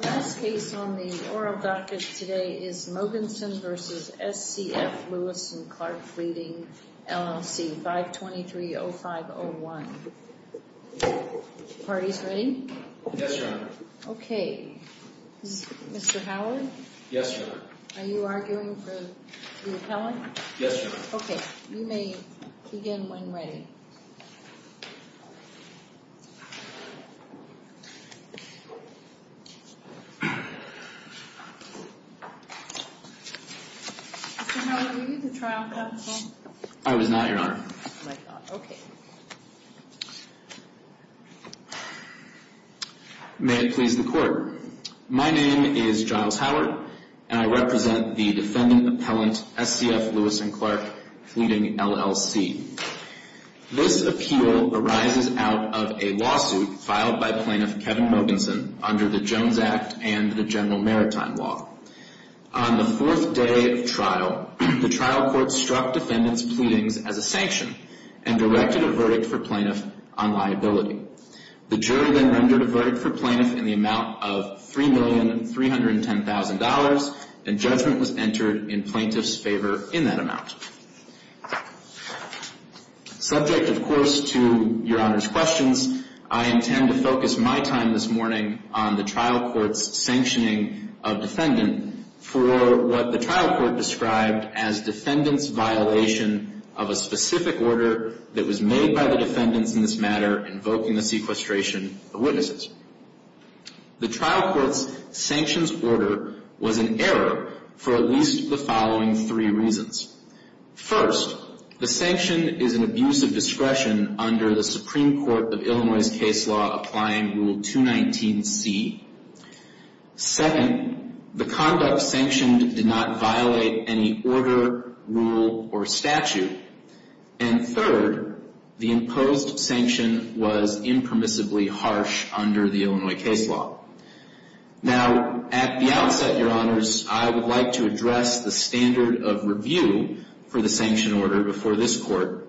The last case on the oral docket today is Mogensen v. SCF Lewis & Clark Fleeting, LLC, 523-0501. Are the parties ready? Yes, Your Honor. Okay. Mr. Howard? Yes, Your Honor. Are you arguing for the appellant? Yes, Your Honor. Okay. You may begin when ready. Mr. Howard, were you the trial counsel? I was not, Your Honor. Okay. May it please the Court. My name is Giles Howard, and I represent the defendant appellant, SCF Lewis & Clark Fleeting, LLC. This appeal arises out of a lawsuit filed by plaintiff Kevin Mogensen under the Jones Act and the General Maritime Law. On the fourth day of trial, the trial court struck defendant's pleadings as a sanction and directed a verdict for plaintiff on liability. The jury then rendered a verdict for plaintiff in the amount of $3,310,000, and judgment was entered in plaintiff's favor in that amount. Subject, of course, to Your Honor's questions, I intend to focus my time this morning on the trial court's sanctioning of defendant for what the trial court described as defendant's violation of a specific order that was made by the defendants in this matter invoking the sequestration of witnesses. The trial court's sanctions order was in error for at least the following three reasons. First, the sanction is an abuse of discretion under the Supreme Court of Illinois' case law applying Rule 219C. Second, the conduct sanctioned did not violate any order, rule, or statute. And third, the imposed sanction was impermissibly harsh under the Illinois case law. Now, at the outset, Your Honors, I would like to address the standard of review for the sanction order before this court.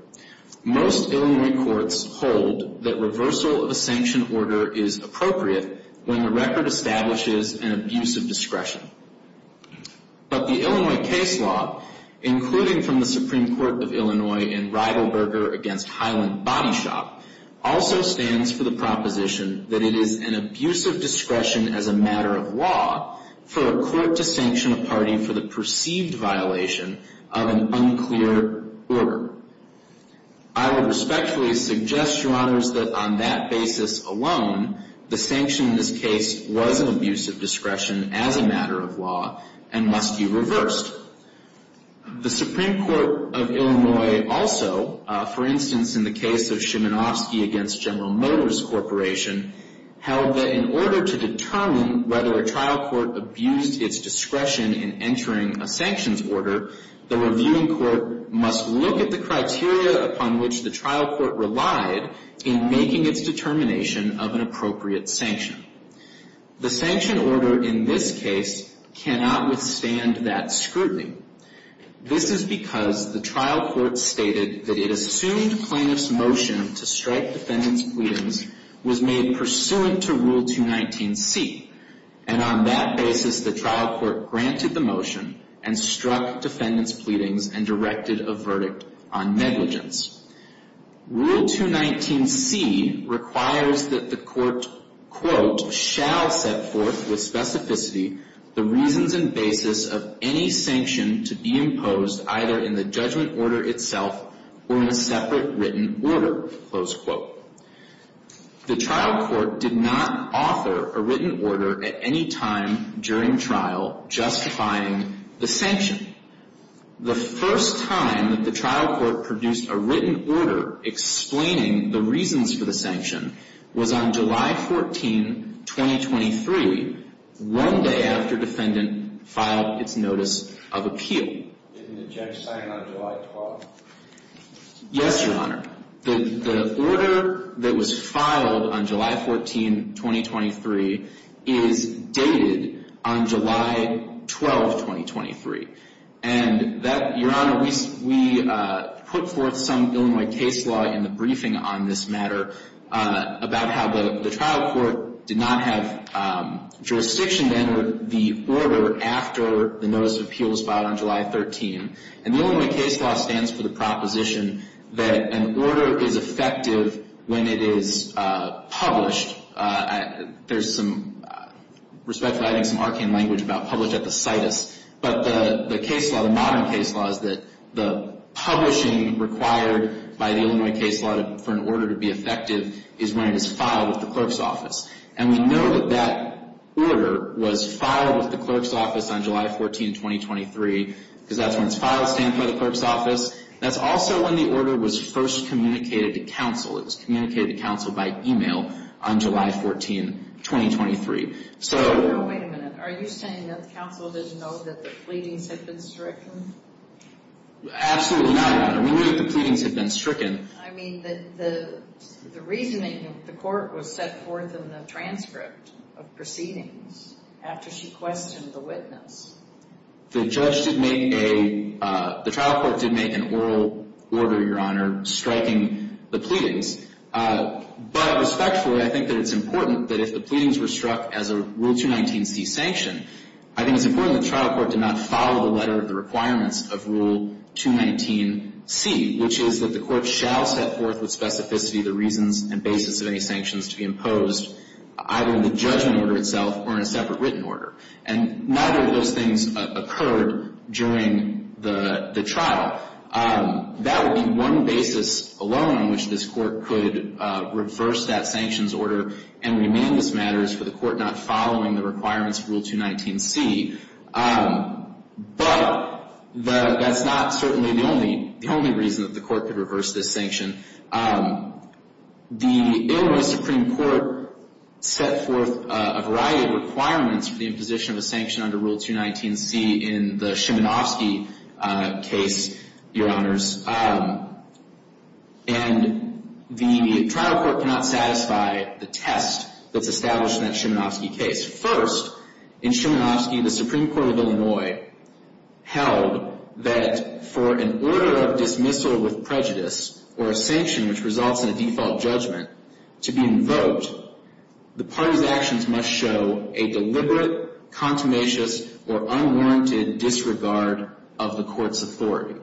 Most Illinois courts hold that reversal of a sanction order is appropriate when the record establishes an abuse of discretion. But the Illinois case law, including from the Supreme Court of Illinois in Reidelberger v. Highland Body Shop, also stands for the proposition that it is an abuse of discretion as a matter of law for a court to sanction a party for the perceived violation of an unclear order. I would respectfully suggest, Your Honors, that on that basis alone, the sanction in this case was an abuse of discretion as a matter of law and must be reversed. The Supreme Court of Illinois also, for instance, in the case of Shimonofsky v. General Motors Corporation, held that in order to determine whether a trial court abused its discretion in entering a sanctions order, the reviewing court must look at the criteria upon which the trial court relied in making its determination of an appropriate sanction. The sanction order in this case cannot withstand that scrutiny. This is because the trial court stated that it assumed plaintiff's motion to strike defendant's pleadings was made pursuant to Rule 219C. And on that basis, the trial court granted the motion and struck defendant's pleadings and directed a verdict on negligence. Rule 219C requires that the court, quote, shall set forth with specificity the reasons and basis of any sanction to be imposed either in the judgment order itself or in a separate written order, close quote. The trial court did not author a written order at any time during trial justifying the sanction. The first time that the trial court produced a written order explaining the reasons for the sanction was on July 14, 2023, one day after defendant filed its notice of appeal. Yes, Your Honor. The order that was filed on July 14, 2023, is dated on July 12, 2023. And that, Your Honor, we put forth some Illinois case law in the briefing on this matter about how the trial court did not have jurisdiction to enter the order after the notice of appeal was filed on July 13. And the Illinois case law stands for the proposition that an order is effective when it is published. There's some, respectfully, I think some arcane language about published at the situs. But the case law, the modern case law, is that the publishing required by the Illinois case law for an order to be effective is when it is filed with the clerk's office. And we know that that order was filed with the clerk's office on July 14, 2023 because that's when it's filed, stamped by the clerk's office. That's also when the order was first communicated to counsel. It was communicated to counsel by email on July 14, 2023. So... Now, wait a minute. Are you saying that the counsel didn't know that the pleadings had been stricken? Absolutely not, Your Honor. We knew that the pleadings had been stricken. I mean, the reasoning of the court was set forth in the transcript of proceedings after she questioned the witness. The trial court did make an oral order, Your Honor, striking the pleadings. But respectfully, I think that it's important that if the pleadings were struck as a Rule 219C sanction, I think it's important that the trial court did not follow the letter of the requirements of Rule 219C, which is that the court shall set forth with specificity the reasons and basis of any sanctions to be imposed, either in the judgment order itself or in a separate written order. And neither of those things occurred during the trial. That would be one basis alone on which this court could reverse that sanctions order and remain this matters for the court not following the requirements of Rule 219C. But that's not certainly the only reason that the court could reverse this sanction. The Illinois Supreme Court set forth a variety of requirements for the imposition of a sanction under Rule 219C in the Schmanofsky case, Your Honors. And the trial court cannot satisfy the test that's established in that Schmanofsky case. First, in Schmanofsky, the Supreme Court of Illinois held that for an order of dismissal with prejudice or a sanction which results in a default judgment to be invoked, the party's actions must show a deliberate, contumacious, or unwarranted disregard of the court's authority.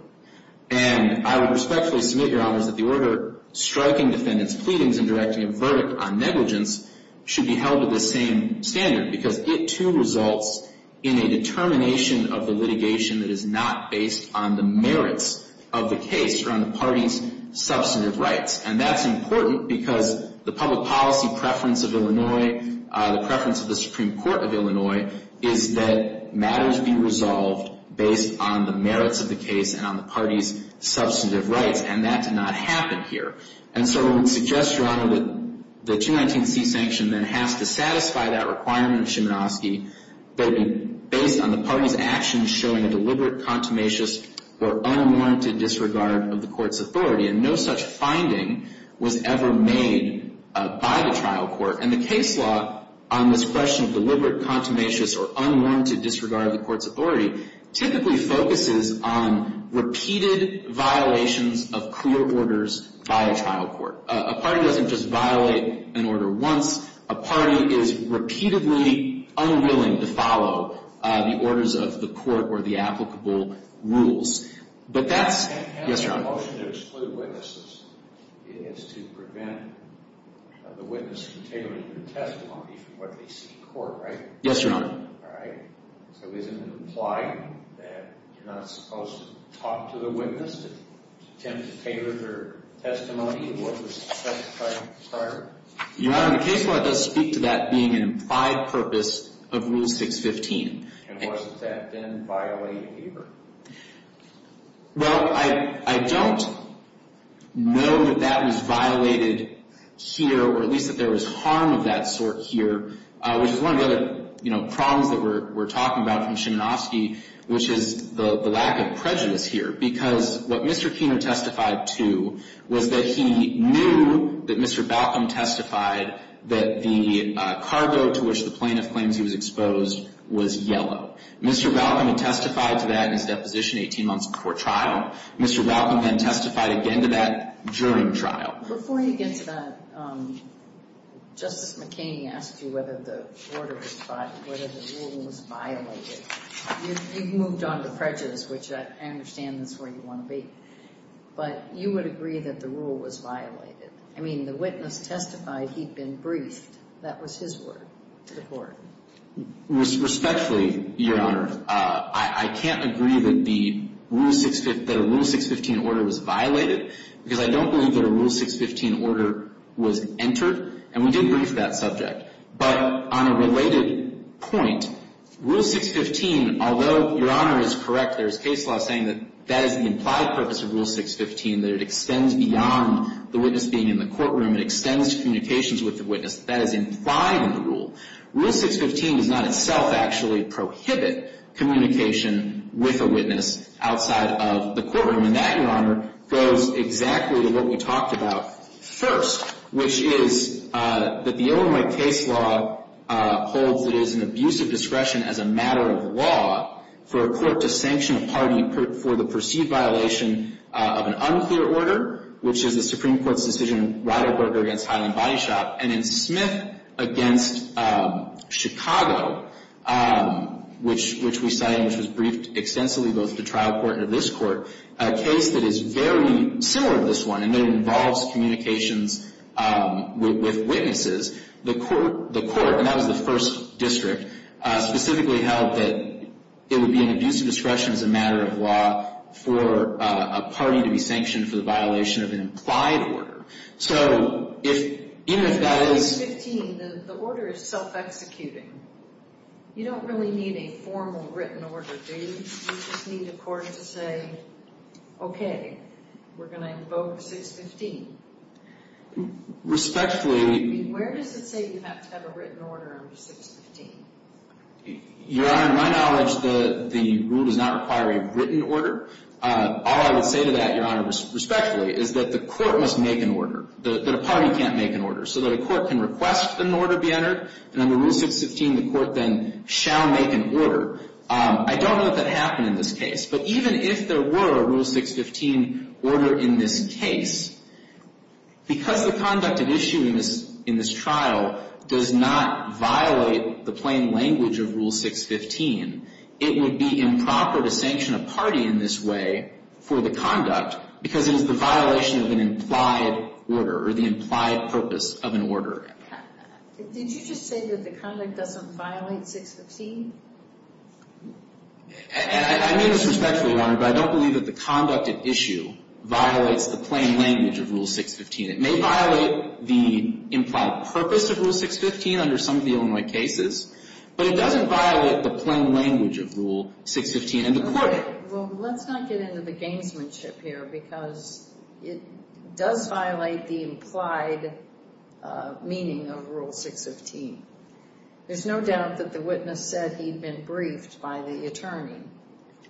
And I would respectfully submit, Your Honors, that the order striking defendant's pleadings and directing a verdict on negligence should be held with the same standard because it, too, results in a determination of the litigation that is not based on the merits of the case or on the party's substantive rights. And that's important because the public policy preference of Illinois, the preference of the Supreme Court of Illinois, is that matters be resolved based on the merits of the case and on the party's substantive rights. And that did not happen here. And so I would suggest, Your Honor, that the 219C sanction then has to satisfy that requirement of Schmanofsky based on the party's actions showing a deliberate, contumacious, or unwarranted disregard of the court's authority. And no such finding was ever made by the trial court. And the case law on this question of deliberate, contumacious, or unwarranted disregard of the court's authority typically focuses on repeated violations of clear orders by a trial court. A party doesn't just violate an order once. A party is repeatedly unwilling to follow the orders of the court or the applicable rules. But that's... Yes, Your Honor. And the motion to exclude witnesses is to prevent the witness from tailoring their testimony for what they see in court, right? Yes, Your Honor. All right. So isn't it implied that you're not supposed to talk to the witness to attempt to tailor their testimony to what was testified prior? Your Honor, the case law does speak to that being an implied purpose of Rule 615. And wasn't that then violated here? Well, I don't know that that was violated here, or at least that there was harm of that sort here, which is one of the other, you know, problems that we're talking about from Schmanofsky, which is the lack of prejudice here. Because what Mr. Keener testified to was that he knew that Mr. Balcom testified that the cargo to which the plaintiff claims he was exposed was yellow. Mr. Balcom had testified to that in his deposition 18 months before trial. Mr. Balcom then testified again to that during trial. Before you get to that, Justice McKinney asked you whether the order was violated, whether the ruling was violated. You've moved on to prejudice, which I understand is where you want to be. But you would agree that the rule was violated. I mean, the witness testified he'd been briefed. That was his word to the Court. Respectfully, Your Honor, I can't agree that the Rule 615 order was violated, because I don't believe that a Rule 615 order was entered. And we did brief that subject. But on a related point, Rule 615, although Your Honor is correct, there is case law saying that that is the implied purpose of Rule 615, that it extends beyond the witness being in the courtroom. It extends to communications with the witness. That is implied in the rule. Rule 615 does not itself actually prohibit communication with a witness outside of the courtroom. And that, Your Honor, goes exactly to what we talked about first, which is that the Illinois case law holds that it is an abuse of discretion as a matter of law for a court to sanction a party for the perceived violation of an unclear order, which is the Supreme Court's decision in Ryderberger v. Highland Body Shop and in Smith v. Chicago, which we cited, which was briefed extensively both to trial court and to this court, a case that is very similar to this one in that it involves communications with witnesses. The court, and that was the first district, specifically held that it would be an abuse of discretion as a matter of law for a party to be sanctioned for the violation of an implied order. So even if that is... In 615, the order is self-executing. You don't really need a formal written order, do you? You just need a court to say, okay, we're going to invoke 615. Respectfully... Where does it say you have to have a written order under 615? Your Honor, to my knowledge, the rule does not require a written order. All I would say to that, Your Honor, respectfully, is that the court must make an order, that a party can't make an order, so that a court can request that an order be entered, and under Rule 615, the court then shall make an order. I don't know that that happened in this case, but even if there were a Rule 615 order in this case, because the conduct at issue in this trial does not violate the plain language of Rule 615, it would be improper to sanction a party in this way for the conduct because it is the violation of an implied order or the implied purpose of an order. Did you just say that the conduct doesn't violate 615? I mean this respectfully, Your Honor, but I don't believe that the conduct at issue violates the plain language of Rule 615. It may violate the implied purpose of Rule 615 under some of the Illinois cases, but it doesn't violate the plain language of Rule 615 under court. Well, let's not get into the gamesmanship here because it does violate the implied meaning of Rule 615. There's no doubt that the witness said he'd been briefed by the attorney.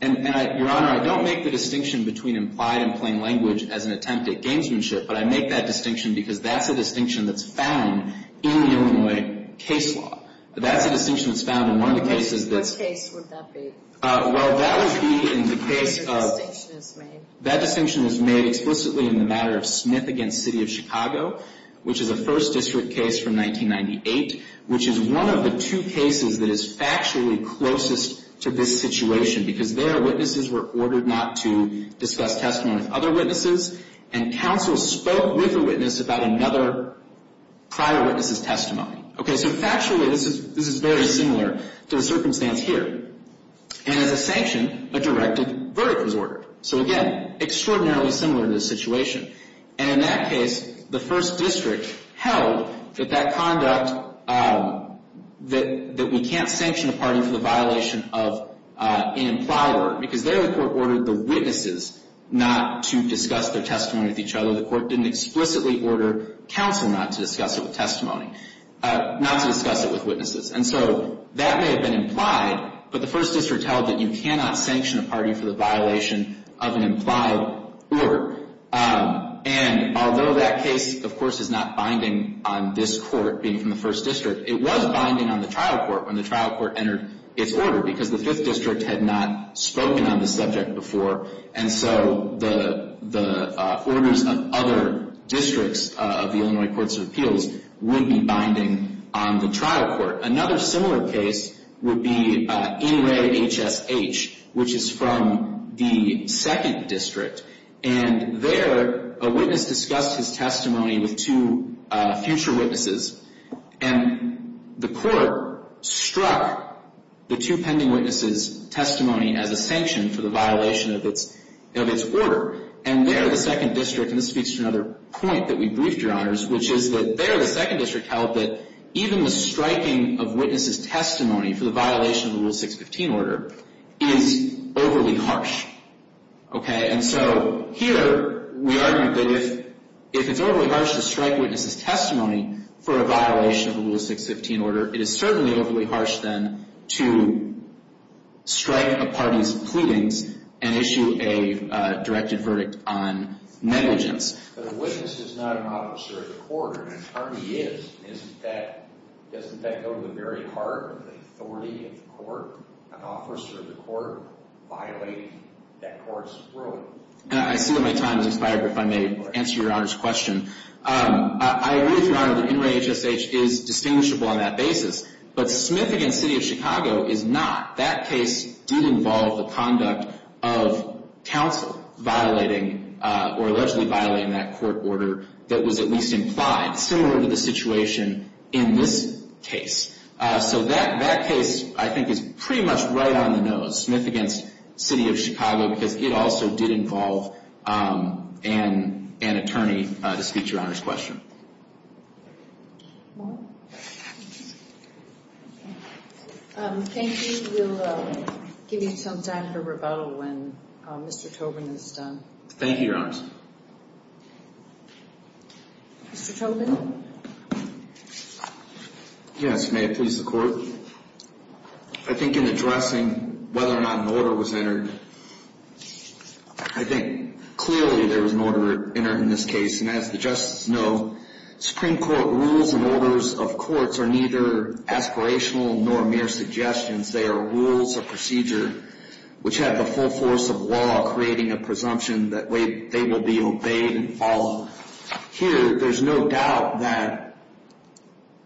And, Your Honor, I don't make the distinction between implied and plain language as an attempt at gamesmanship, but I make that distinction because that's a distinction that's found in the Illinois case law. That's a distinction that's found in one of the cases that's. Which case would that be? Well, that would be in the case of. That distinction is made. That distinction is made explicitly in the matter of Smith v. City of Chicago, which is a First District case from 1998, which is one of the two cases that is factually closest to this situation because there witnesses were ordered not to discuss testimony with other witnesses, and counsel spoke with a witness about another prior witness's testimony. Okay, so factually this is very similar to the circumstance here. And as a sanction, a directed verdict was ordered. So, again, extraordinarily similar to the situation. And in that case, the First District held that that conduct, that we can't sanction a party for the violation of an implied word because there the court ordered the witnesses not to discuss their testimony with each other. The court didn't explicitly order counsel not to discuss it with testimony, not to discuss it with witnesses. And so that may have been implied, but the First District held that you cannot sanction a party for the violation of an implied word. And although that case, of course, is not binding on this court being from the First District, it was binding on the trial court when the trial court entered its order because the Fifth District had not spoken on the subject before. And so the orders of other districts of the Illinois Courts of Appeals would be binding on the trial court. Another similar case would be In Re HSH, which is from the Second District. And there a witness discussed his testimony with two future witnesses, and the court struck the two pending witnesses' testimony as a sanction for the violation of its order. And there the Second District, and this speaks to another point that we briefed, Your Honors, which is that there the Second District held that even the striking of witnesses' testimony for the violation of the Rule 615 order is overly harsh. Okay? And so here we argued that if it's overly harsh to strike witnesses' testimony for a violation of the Rule 615 order, it is certainly overly harsh then to strike a party's pleadings and issue a directed verdict on negligence. But a witness is not an officer of the court. An attorney is. Doesn't that go to the very heart of the authority of the court? An officer of the court violating that court's rule. And I see that my time has expired, but if I may answer Your Honor's question. I agree with Your Honor that In Re HSH is distinguishable on that basis. But Smith v. City of Chicago is not. That case did involve the conduct of counsel violating or allegedly violating that court order that was at least implied, similar to the situation in this case. So that case, I think, is pretty much right on the nose. Smith v. City of Chicago, because it also did involve an attorney to speak to Your Honor's question. Thank you. We'll give you some time for rebuttal when Mr. Tobin is done. Thank you, Your Honor. Mr. Tobin? Yes, may it please the Court. I think in addressing whether or not an order was entered, I think clearly there was an order entered in this case. And as the justices know, Supreme Court rules and orders of courts are neither aspirational nor mere suggestions. They are rules of procedure which have the full force of law creating a presumption that they will be obeyed and followed. Here, there's no doubt that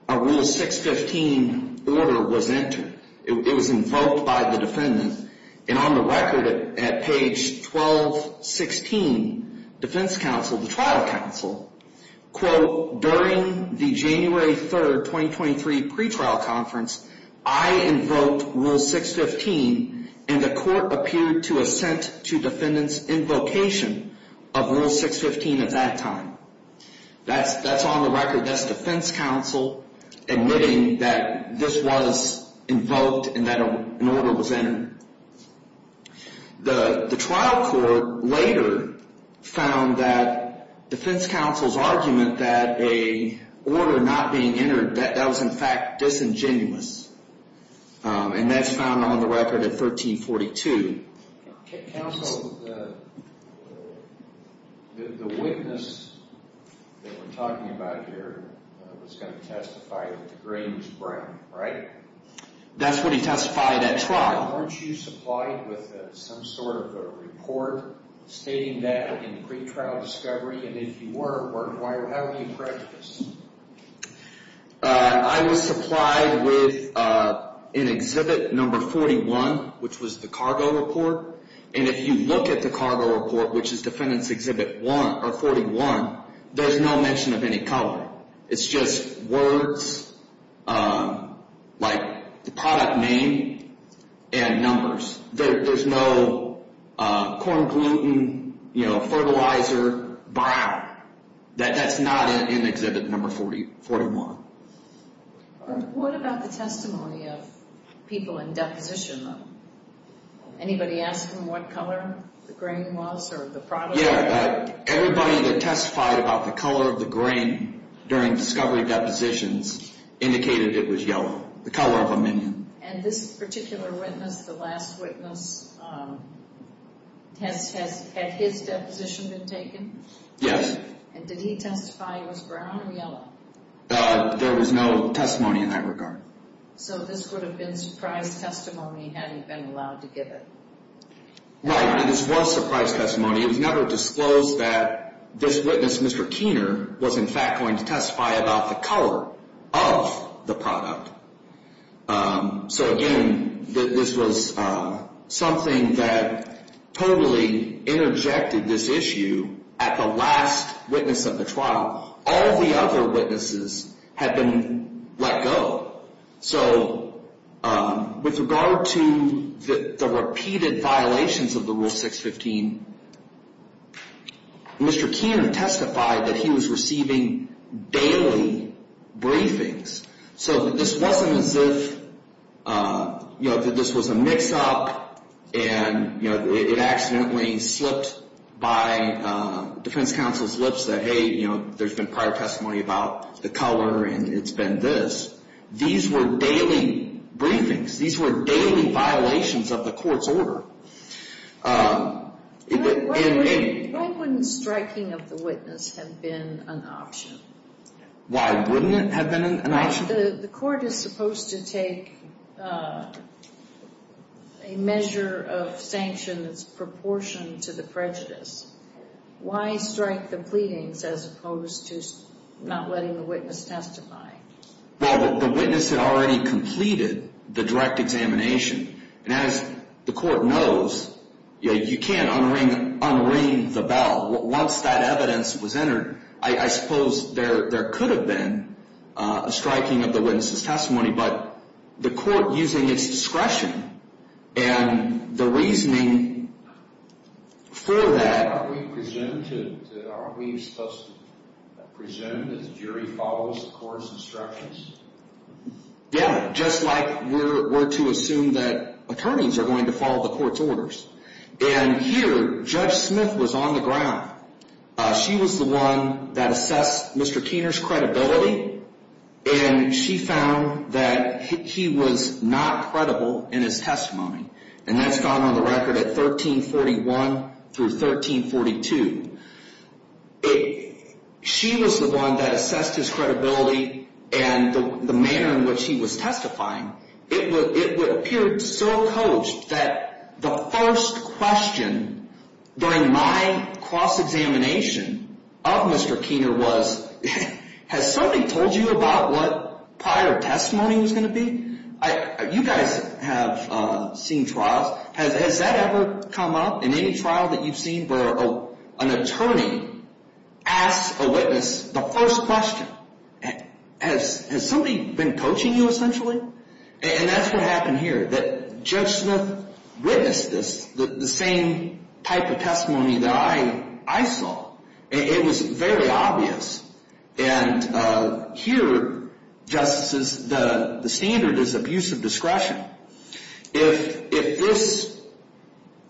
a Rule 615 order was entered. It was invoked by the defendant. And on the record at page 1216, defense counsel, the trial counsel, quote, during the January 3, 2023 pretrial conference, I invoked Rule 615, and the court appeared to assent to defendant's invocation of Rule 615 at that time. That's on the record. That's defense counsel admitting that this was invoked and that an order was entered. The trial court later found that defense counsel's argument that an order not being entered, that that was, in fact, disingenuous. And that's found on the record at 1342. Counsel, the witness that we're talking about here was going to testify that the grain was brown, right? Now, weren't you supplied with some sort of a report stating that in pretrial discovery? And if you were, how were you prejudiced? I was supplied with an Exhibit No. 41, which was the cargo report. And if you look at the cargo report, which is Defendant's Exhibit 41, there's no mention of any color. It's just words like the product name and numbers. There's no corn gluten, you know, fertilizer, brown. That's not in Exhibit No. 41. What about the testimony of people in deposition? Anybody ask them what color the grain was or the product? Yeah, everybody that testified about the color of the grain during discovery depositions indicated it was yellow, the color of a minion. And this particular witness, the last witness, had his deposition been taken? Yes. And did he testify it was brown or yellow? There was no testimony in that regard. So this would have been surprise testimony had he been allowed to give it. Right. This was surprise testimony. It was never disclosed that this witness, Mr. Keener, was in fact going to testify about the color of the product. So, again, this was something that totally interjected this issue at the last witness of the trial. All the other witnesses had been let go. So with regard to the repeated violations of the Rule 615, Mr. Keener testified that he was receiving daily briefings. So this wasn't as if, you know, this was a mix-up and, you know, it accidentally slipped by defense counsel's lips that, hey, you know, there's been prior testimony about the color and it's been this. These were daily briefings. These were daily violations of the court's order. Why wouldn't striking of the witness have been an option? Why wouldn't it have been an option? The court is supposed to take a measure of sanctions proportioned to the prejudice. Why strike the pleadings as opposed to not letting the witness testify? Well, the witness had already completed the direct examination. And as the court knows, you can't unring the bell. Once that evidence was entered, I suppose there could have been a striking of the witness's testimony. But the court, using its discretion and the reasoning for that. Are we supposed to present as jury follows the court's instructions? Yeah, just like we're to assume that attorneys are going to follow the court's orders. And here, Judge Smith was on the ground. She was the one that assessed Mr. Keener's credibility. And she found that he was not credible in his testimony. And that's gone on the record at 1341 through 1342. She was the one that assessed his credibility and the manner in which he was testifying. It would appear so coached that the first question during my cross-examination of Mr. Keener was, has somebody told you about what prior testimony was going to be? You guys have seen trials. Has that ever come up in any trial that you've seen where an attorney asks a witness the first question? Has somebody been coaching you essentially? And that's what happened here. Judge Smith witnessed this, the same type of testimony that I saw. It was very obvious. And here, justices, the standard is abuse of discretion. If this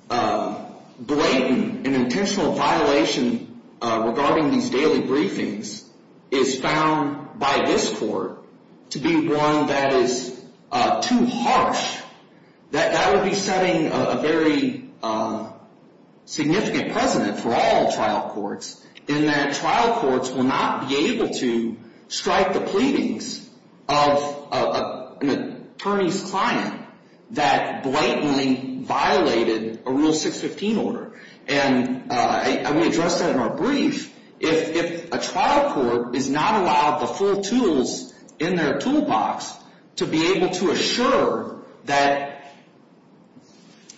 blatant and intentional violation regarding these daily briefings is found by this court to be one that is too harsh, that would be setting a very significant precedent for all trial courts in that trial courts will not be able to strike the pleadings of an attorney's client that blatantly violated a Rule 615 order. And we addressed that in our brief. If a trial court is not allowed the full tools in their toolbox to be able to assure that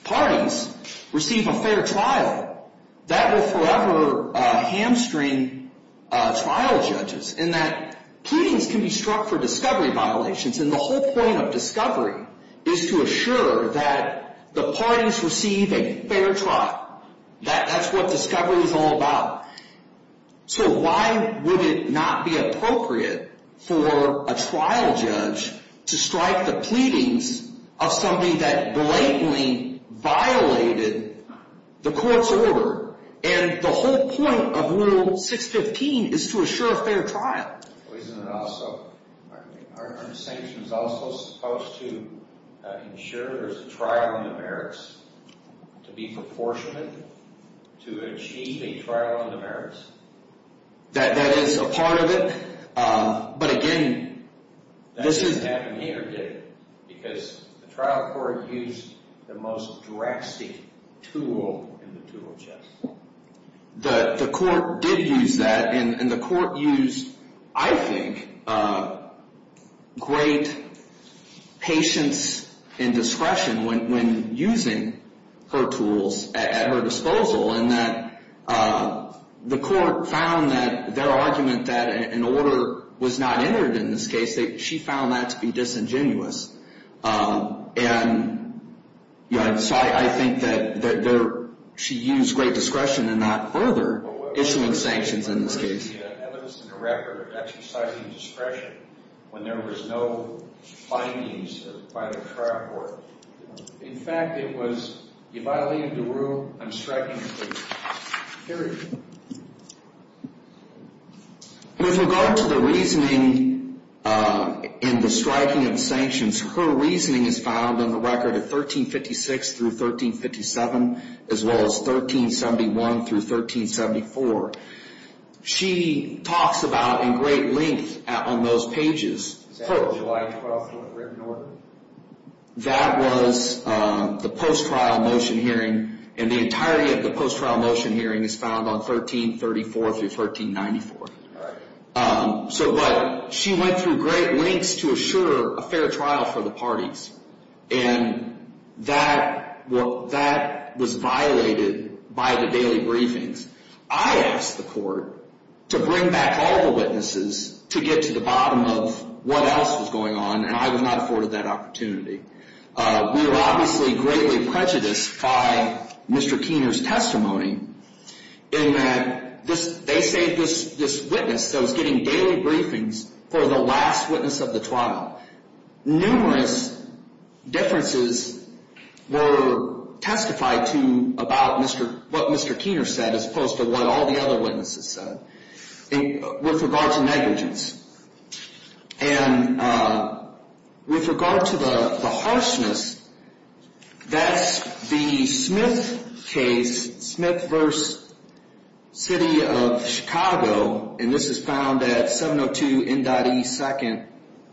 parties receive a fair trial, that will forever hamstring trial judges in that pleadings can be struck for discovery violations. And the whole point of discovery is to assure that the parties receive a fair trial. That's what discovery is all about. So why would it not be appropriate for a trial judge to strike the pleadings of somebody that blatantly violated the court's order? And the whole point of Rule 615 is to assure a fair trial. Isn't it also, aren't sanctions also supposed to ensure there's a trial on the merits, to be proportionate, to achieve a trial on the merits? That is a part of it. But again, this is... That didn't happen here, did it? Because the trial court used the most drastic tool in the tool chest. The court did use that. And the court used, I think, great patience and discretion when using her tools at her disposal, in that the court found that their argument that an order was not entered in this case, she found that to be disingenuous. And so I think that she used great discretion in that further, issuing sanctions in this case. But what was the evidence in the record exercising discretion when there was no findings by the trial court? In fact, it was, if I leave the room, I'm striking a plea. Period. With regard to the reasoning in the striking of sanctions, her reasoning is found in the record of 1356 through 1357, as well as 1371 through 1374. She talks about, in great length on those pages, her... July 12th written order. That was the post-trial motion hearing, and the entirety of the post-trial motion hearing is found on 1334 through 1394. But she went through great lengths to assure a fair trial for the parties. And that was violated by the daily briefings. I asked the court to bring back all the witnesses to get to the bottom of what else was going on, and I was not afforded that opportunity. We were obviously greatly prejudiced by Mr. Keener's testimony in that they saved this witness that was getting daily briefings for the last witness of the trial. Numerous differences were testified to about what Mr. Keener said, as opposed to what all the other witnesses said, with regard to negligence. And with regard to the harshness, that's the Smith case, Smith v. City of Chicago, and this is found at 702 N.E. 2nd,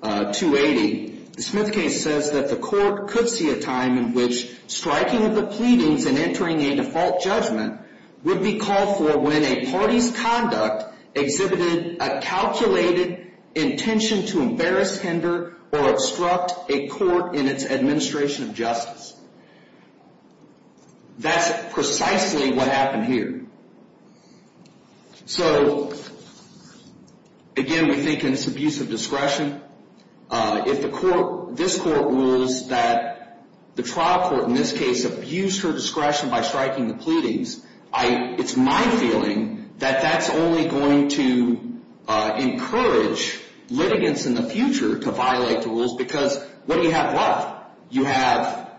280. The Smith case says that the court could see a time in which striking of the pleadings and entering a default judgment would be called for when a party's conduct exhibited a calculated intention to embarrass, hinder, or obstruct a court in its administration of justice. That's precisely what happened here. So, again, we think in this abuse of discretion, if this court rules that the trial court in this case abused her discretion by striking the pleadings, it's my feeling that that's only going to encourage litigants in the future to violate the rules, because what do you have left? You have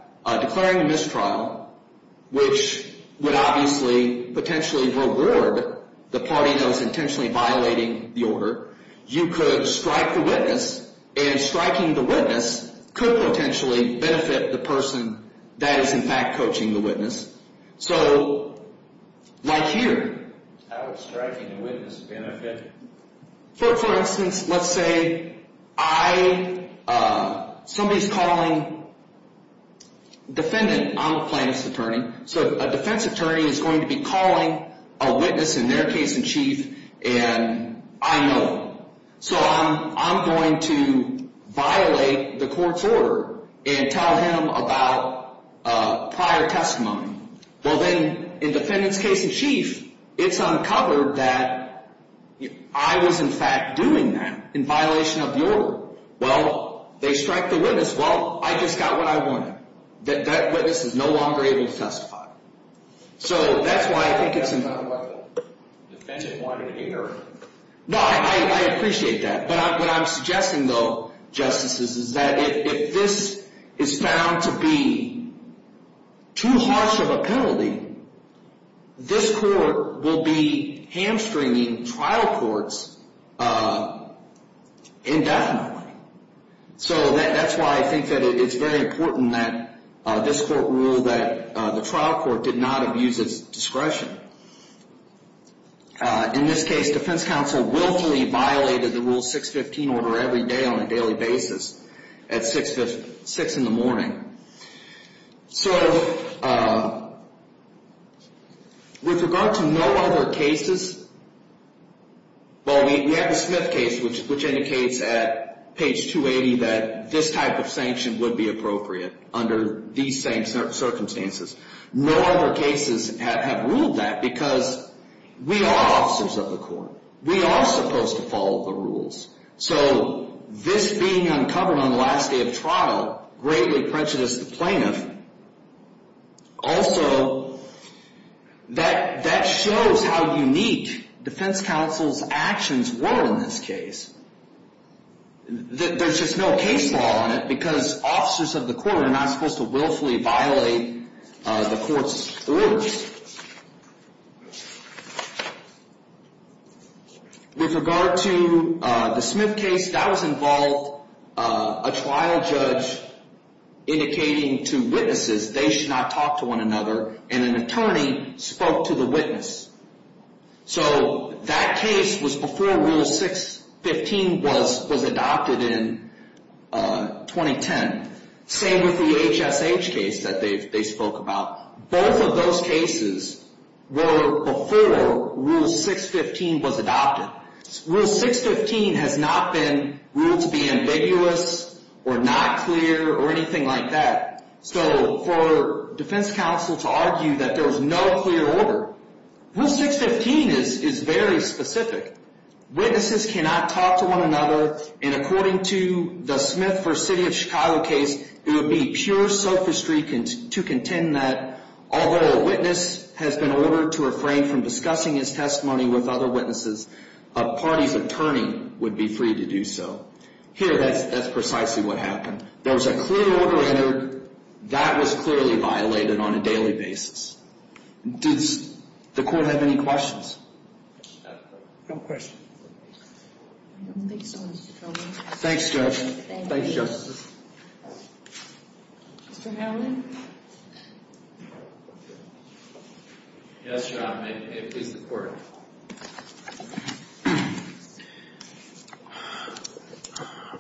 declaring a mistrial, which would obviously potentially reward the party that was intentionally violating the order. You could strike the witness, and striking the witness could potentially benefit the person that is, in fact, coaching the witness. So, like here. How would striking a witness benefit? For instance, let's say I, somebody's calling, defendant, I'm a plaintiff's attorney, so a defense attorney is going to be calling a witness in their case in chief, and I know him. So, I'm going to violate the court's order and tell him about prior testimony. Well, then, in defendant's case in chief, it's uncovered that I was, in fact, doing that in violation of the order. Well, they strike the witness. Well, I just got what I wanted. That witness is no longer able to testify. So, that's why I think it's important. No, I appreciate that. But what I'm suggesting, though, justices, is that if this is found to be too harsh of a penalty, this court will be hamstringing trial courts indefinitely. So, that's why I think that it's very important that this court rule that the trial court did not abuse its discretion. In this case, defense counsel willfully violated the Rule 615 order every day on a daily basis at 6 in the morning. So, with regard to no other cases, well, we have the Smith case, which indicates at page 280 that this type of sanction would be appropriate under these same circumstances. No other cases have ruled that because we are officers of the court. We are supposed to follow the rules. So, this being uncovered on the last day of trial greatly prejudiced the plaintiff. Also, that shows how unique defense counsel's actions were in this case. There's just no case law on it because officers of the court are not supposed to willfully violate the court's rules. With regard to the Smith case, that was involved a trial judge indicating to witnesses they should not talk to one another, and an attorney spoke to the witness. So, that case was before Rule 615 was adopted in 2010. Same with the HSH case that they spoke about. Both of those cases were before Rule 615 was adopted. Rule 615 has not been ruled to be ambiguous or not clear or anything like that. So, for defense counsel to argue that there was no clear order, Rule 615 is very specific. Witnesses cannot talk to one another, and according to the Smith v. City of Chicago case, it would be pure sophistry to contend that although a witness has been ordered to refrain from discussing his testimony with other witnesses, a party's attorney would be free to do so. Here, that's precisely what happened. There was a clear order entered. That was clearly violated on a daily basis. Does the court have any questions? No questions. Thanks, Judge. Thanks, Justice. Mr. Hamilton? Yes, Your Honor. May it please the Court.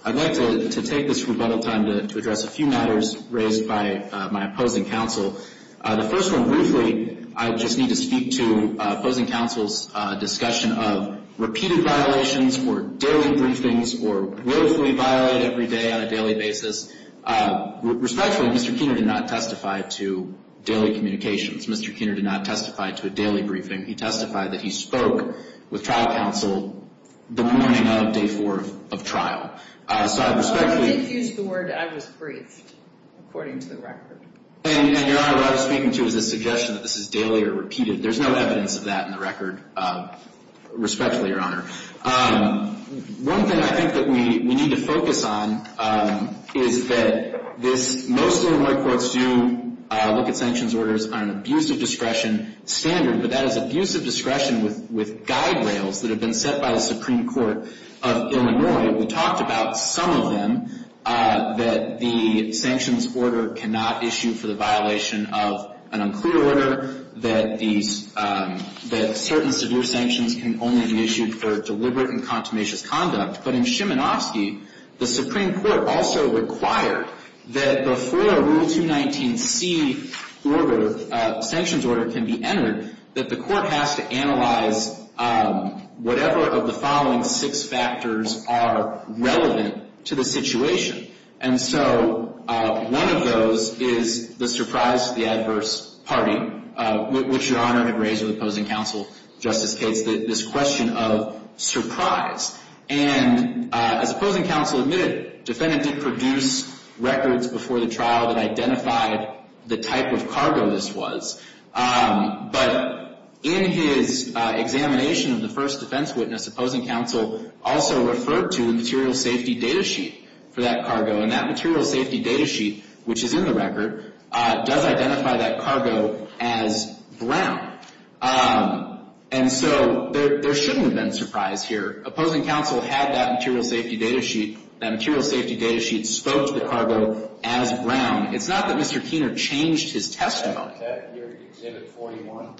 I'd like to take this rebuttal time to address a few matters raised by my opposing counsel. The first one, briefly, I just need to speak to opposing counsel's discussion of repeated violations or daily briefings or willfully violated every day on a daily basis. Respectfully, Mr. Keener did not testify to daily communications. Mr. Keener did not testify to a daily briefing. He testified that he spoke with trial counsel the morning of day four of trial. So, I respectfully— I think he used the word, I was briefed, according to the record. And, Your Honor, what I was speaking to is a suggestion that this is daily or repeated. There's no evidence of that in the record. Respectfully, Your Honor. One thing I think that we need to focus on is that this— most Illinois courts do look at sanctions orders on an abuse of discretion standard, but that is abuse of discretion with guide rails that have been set by the Supreme Court of Illinois. We talked about some of them, that the sanctions order cannot issue for the violation of an unclear order, that certain severe sanctions can only be issued for deliberate and contumacious conduct. But in Shimonofsky, the Supreme Court also required that before Rule 219C sanctions order can be entered, that the court has to analyze whatever of the following six factors are relevant to the situation. And so one of those is the surprise to the adverse party, which Your Honor had raised with opposing counsel, Justice Cates, this question of surprise. And as opposing counsel admitted, defendant did produce records before the trial that identified the type of cargo this was. But in his examination of the first defense witness, opposing counsel also referred to the material safety data sheet for that cargo. And that material safety data sheet, which is in the record, does identify that cargo as brown. And so there shouldn't have been surprise here. Opposing counsel had that material safety data sheet. That material safety data sheet spoke to the cargo as brown. It's not that Mr. Keener changed his testimony. Is that your Exhibit 41?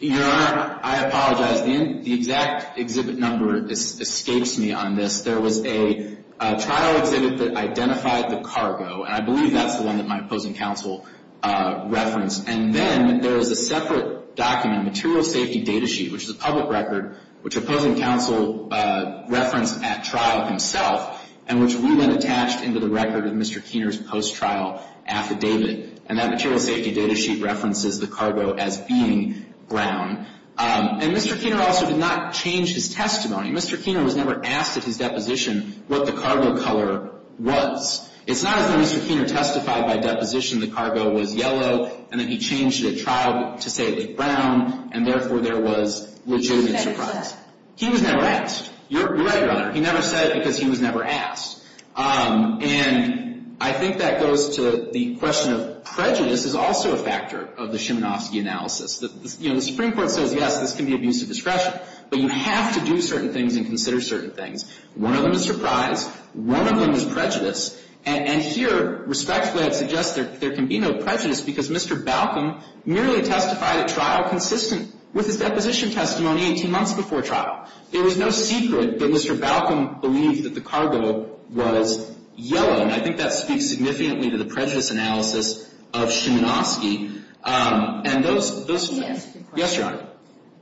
Your Honor, I apologize. The exact exhibit number escapes me on this. There was a trial exhibit that identified the cargo, and I believe that's the one that my opposing counsel referenced. And then there is a separate document, material safety data sheet, which is a public record, which opposing counsel referenced at trial himself, and which we then attached into the record of Mr. Keener's post-trial affidavit. And that material safety data sheet references the cargo as being brown. And Mr. Keener also did not change his testimony. Mr. Keener was never asked at his deposition what the cargo color was. It's not as though Mr. Keener testified by deposition the cargo was yellow, and then he changed it at trial to say it was brown, and therefore there was legitimate surprise. He was never asked. You're right, Your Honor. He never said it because he was never asked. And I think that goes to the question of prejudice is also a factor of the Szymanowski analysis. You know, the Supreme Court says, yes, this can be abuse of discretion, but you have to do certain things and consider certain things. One of them is surprise. One of them is prejudice. And here, respectfully, I'd suggest there can be no prejudice because Mr. Balcom merely testified at trial consistent with his deposition testimony 18 months before trial. There was no secret that Mr. Balcom believed that the cargo was yellow, and I think that speaks significantly to the prejudice analysis of Szymanowski. And those— Let me ask you a question. Yes, Your Honor.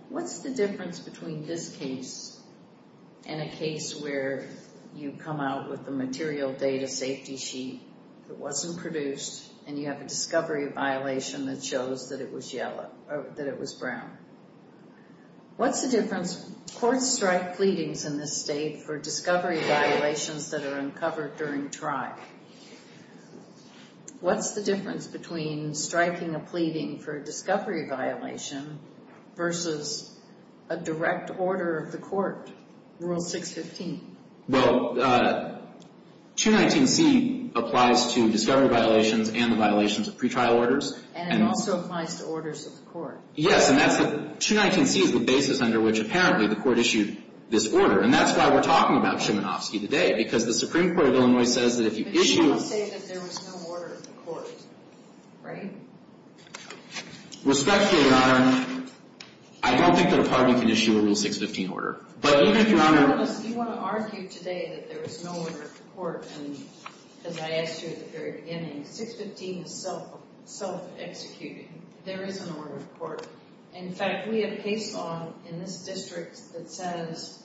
What's the difference between this case and a case where you come out with a material data safety sheet that wasn't produced, and you have a discovery violation that shows that it was brown? What's the difference? Courts strike pleadings in this state for discovery violations that are uncovered during trial. What's the difference between striking a pleading for a discovery violation versus a direct order of the court, Rule 615? Well, 219C applies to discovery violations and the violations of pretrial orders. And it also applies to orders of the court. Yes, and that's the—219C is the basis under which apparently the court issued this order. And that's why we're talking about Szymanowski today, because the Supreme Court of Illinois says that if you issue— But you don't say that there was no order of the court, right? Respectfully, Your Honor, I don't think the Department can issue a Rule 615 order. But even if Your Honor— You want to argue today that there was no order of the court, and as I asked you at the very beginning, 615 is self-executing. There is an order of the court. In fact, we have case law in this district that says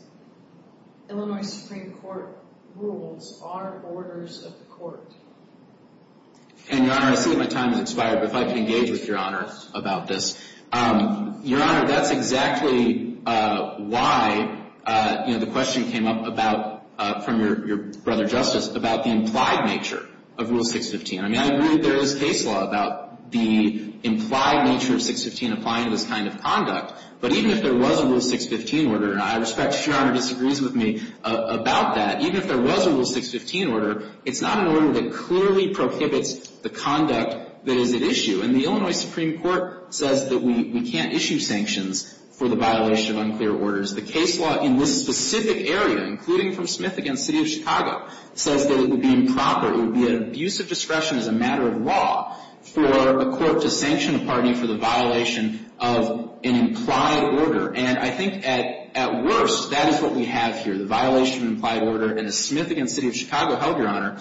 Illinois Supreme Court rules are orders of the court. And, Your Honor, I see that my time has expired, but if I could engage with Your Honor about this. Your Honor, that's exactly why, you know, the question came up about— from your brother, Justice, about the implied nature of Rule 615. I mean, I agree there is case law about the implied nature of 615 applying to this kind of conduct. But even if there was a Rule 615 order, and I respect if Your Honor disagrees with me about that, even if there was a Rule 615 order, it's not an order that clearly prohibits the conduct that is at issue. And the Illinois Supreme Court says that we can't issue sanctions for the violation of unclear orders. The case law in this specific area, including from Smith v. City of Chicago, says that it would be improper. It would be an abuse of discretion as a matter of law for a court to sanction a party for the violation of an implied order. And I think at worst, that is what we have here, the violation of an implied order. And as Smith v. City of Chicago held, Your Honor,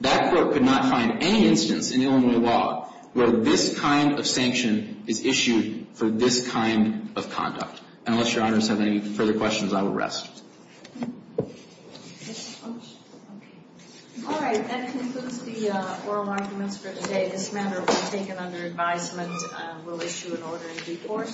that court could not find any instance in Illinois law where this kind of sanction is issued for this kind of conduct. Unless Your Honors have any further questions, I will rest. Is this on? Okay. All right, that concludes the oral arguments for today. This matter will be taken under advisement. We'll issue an order in due course.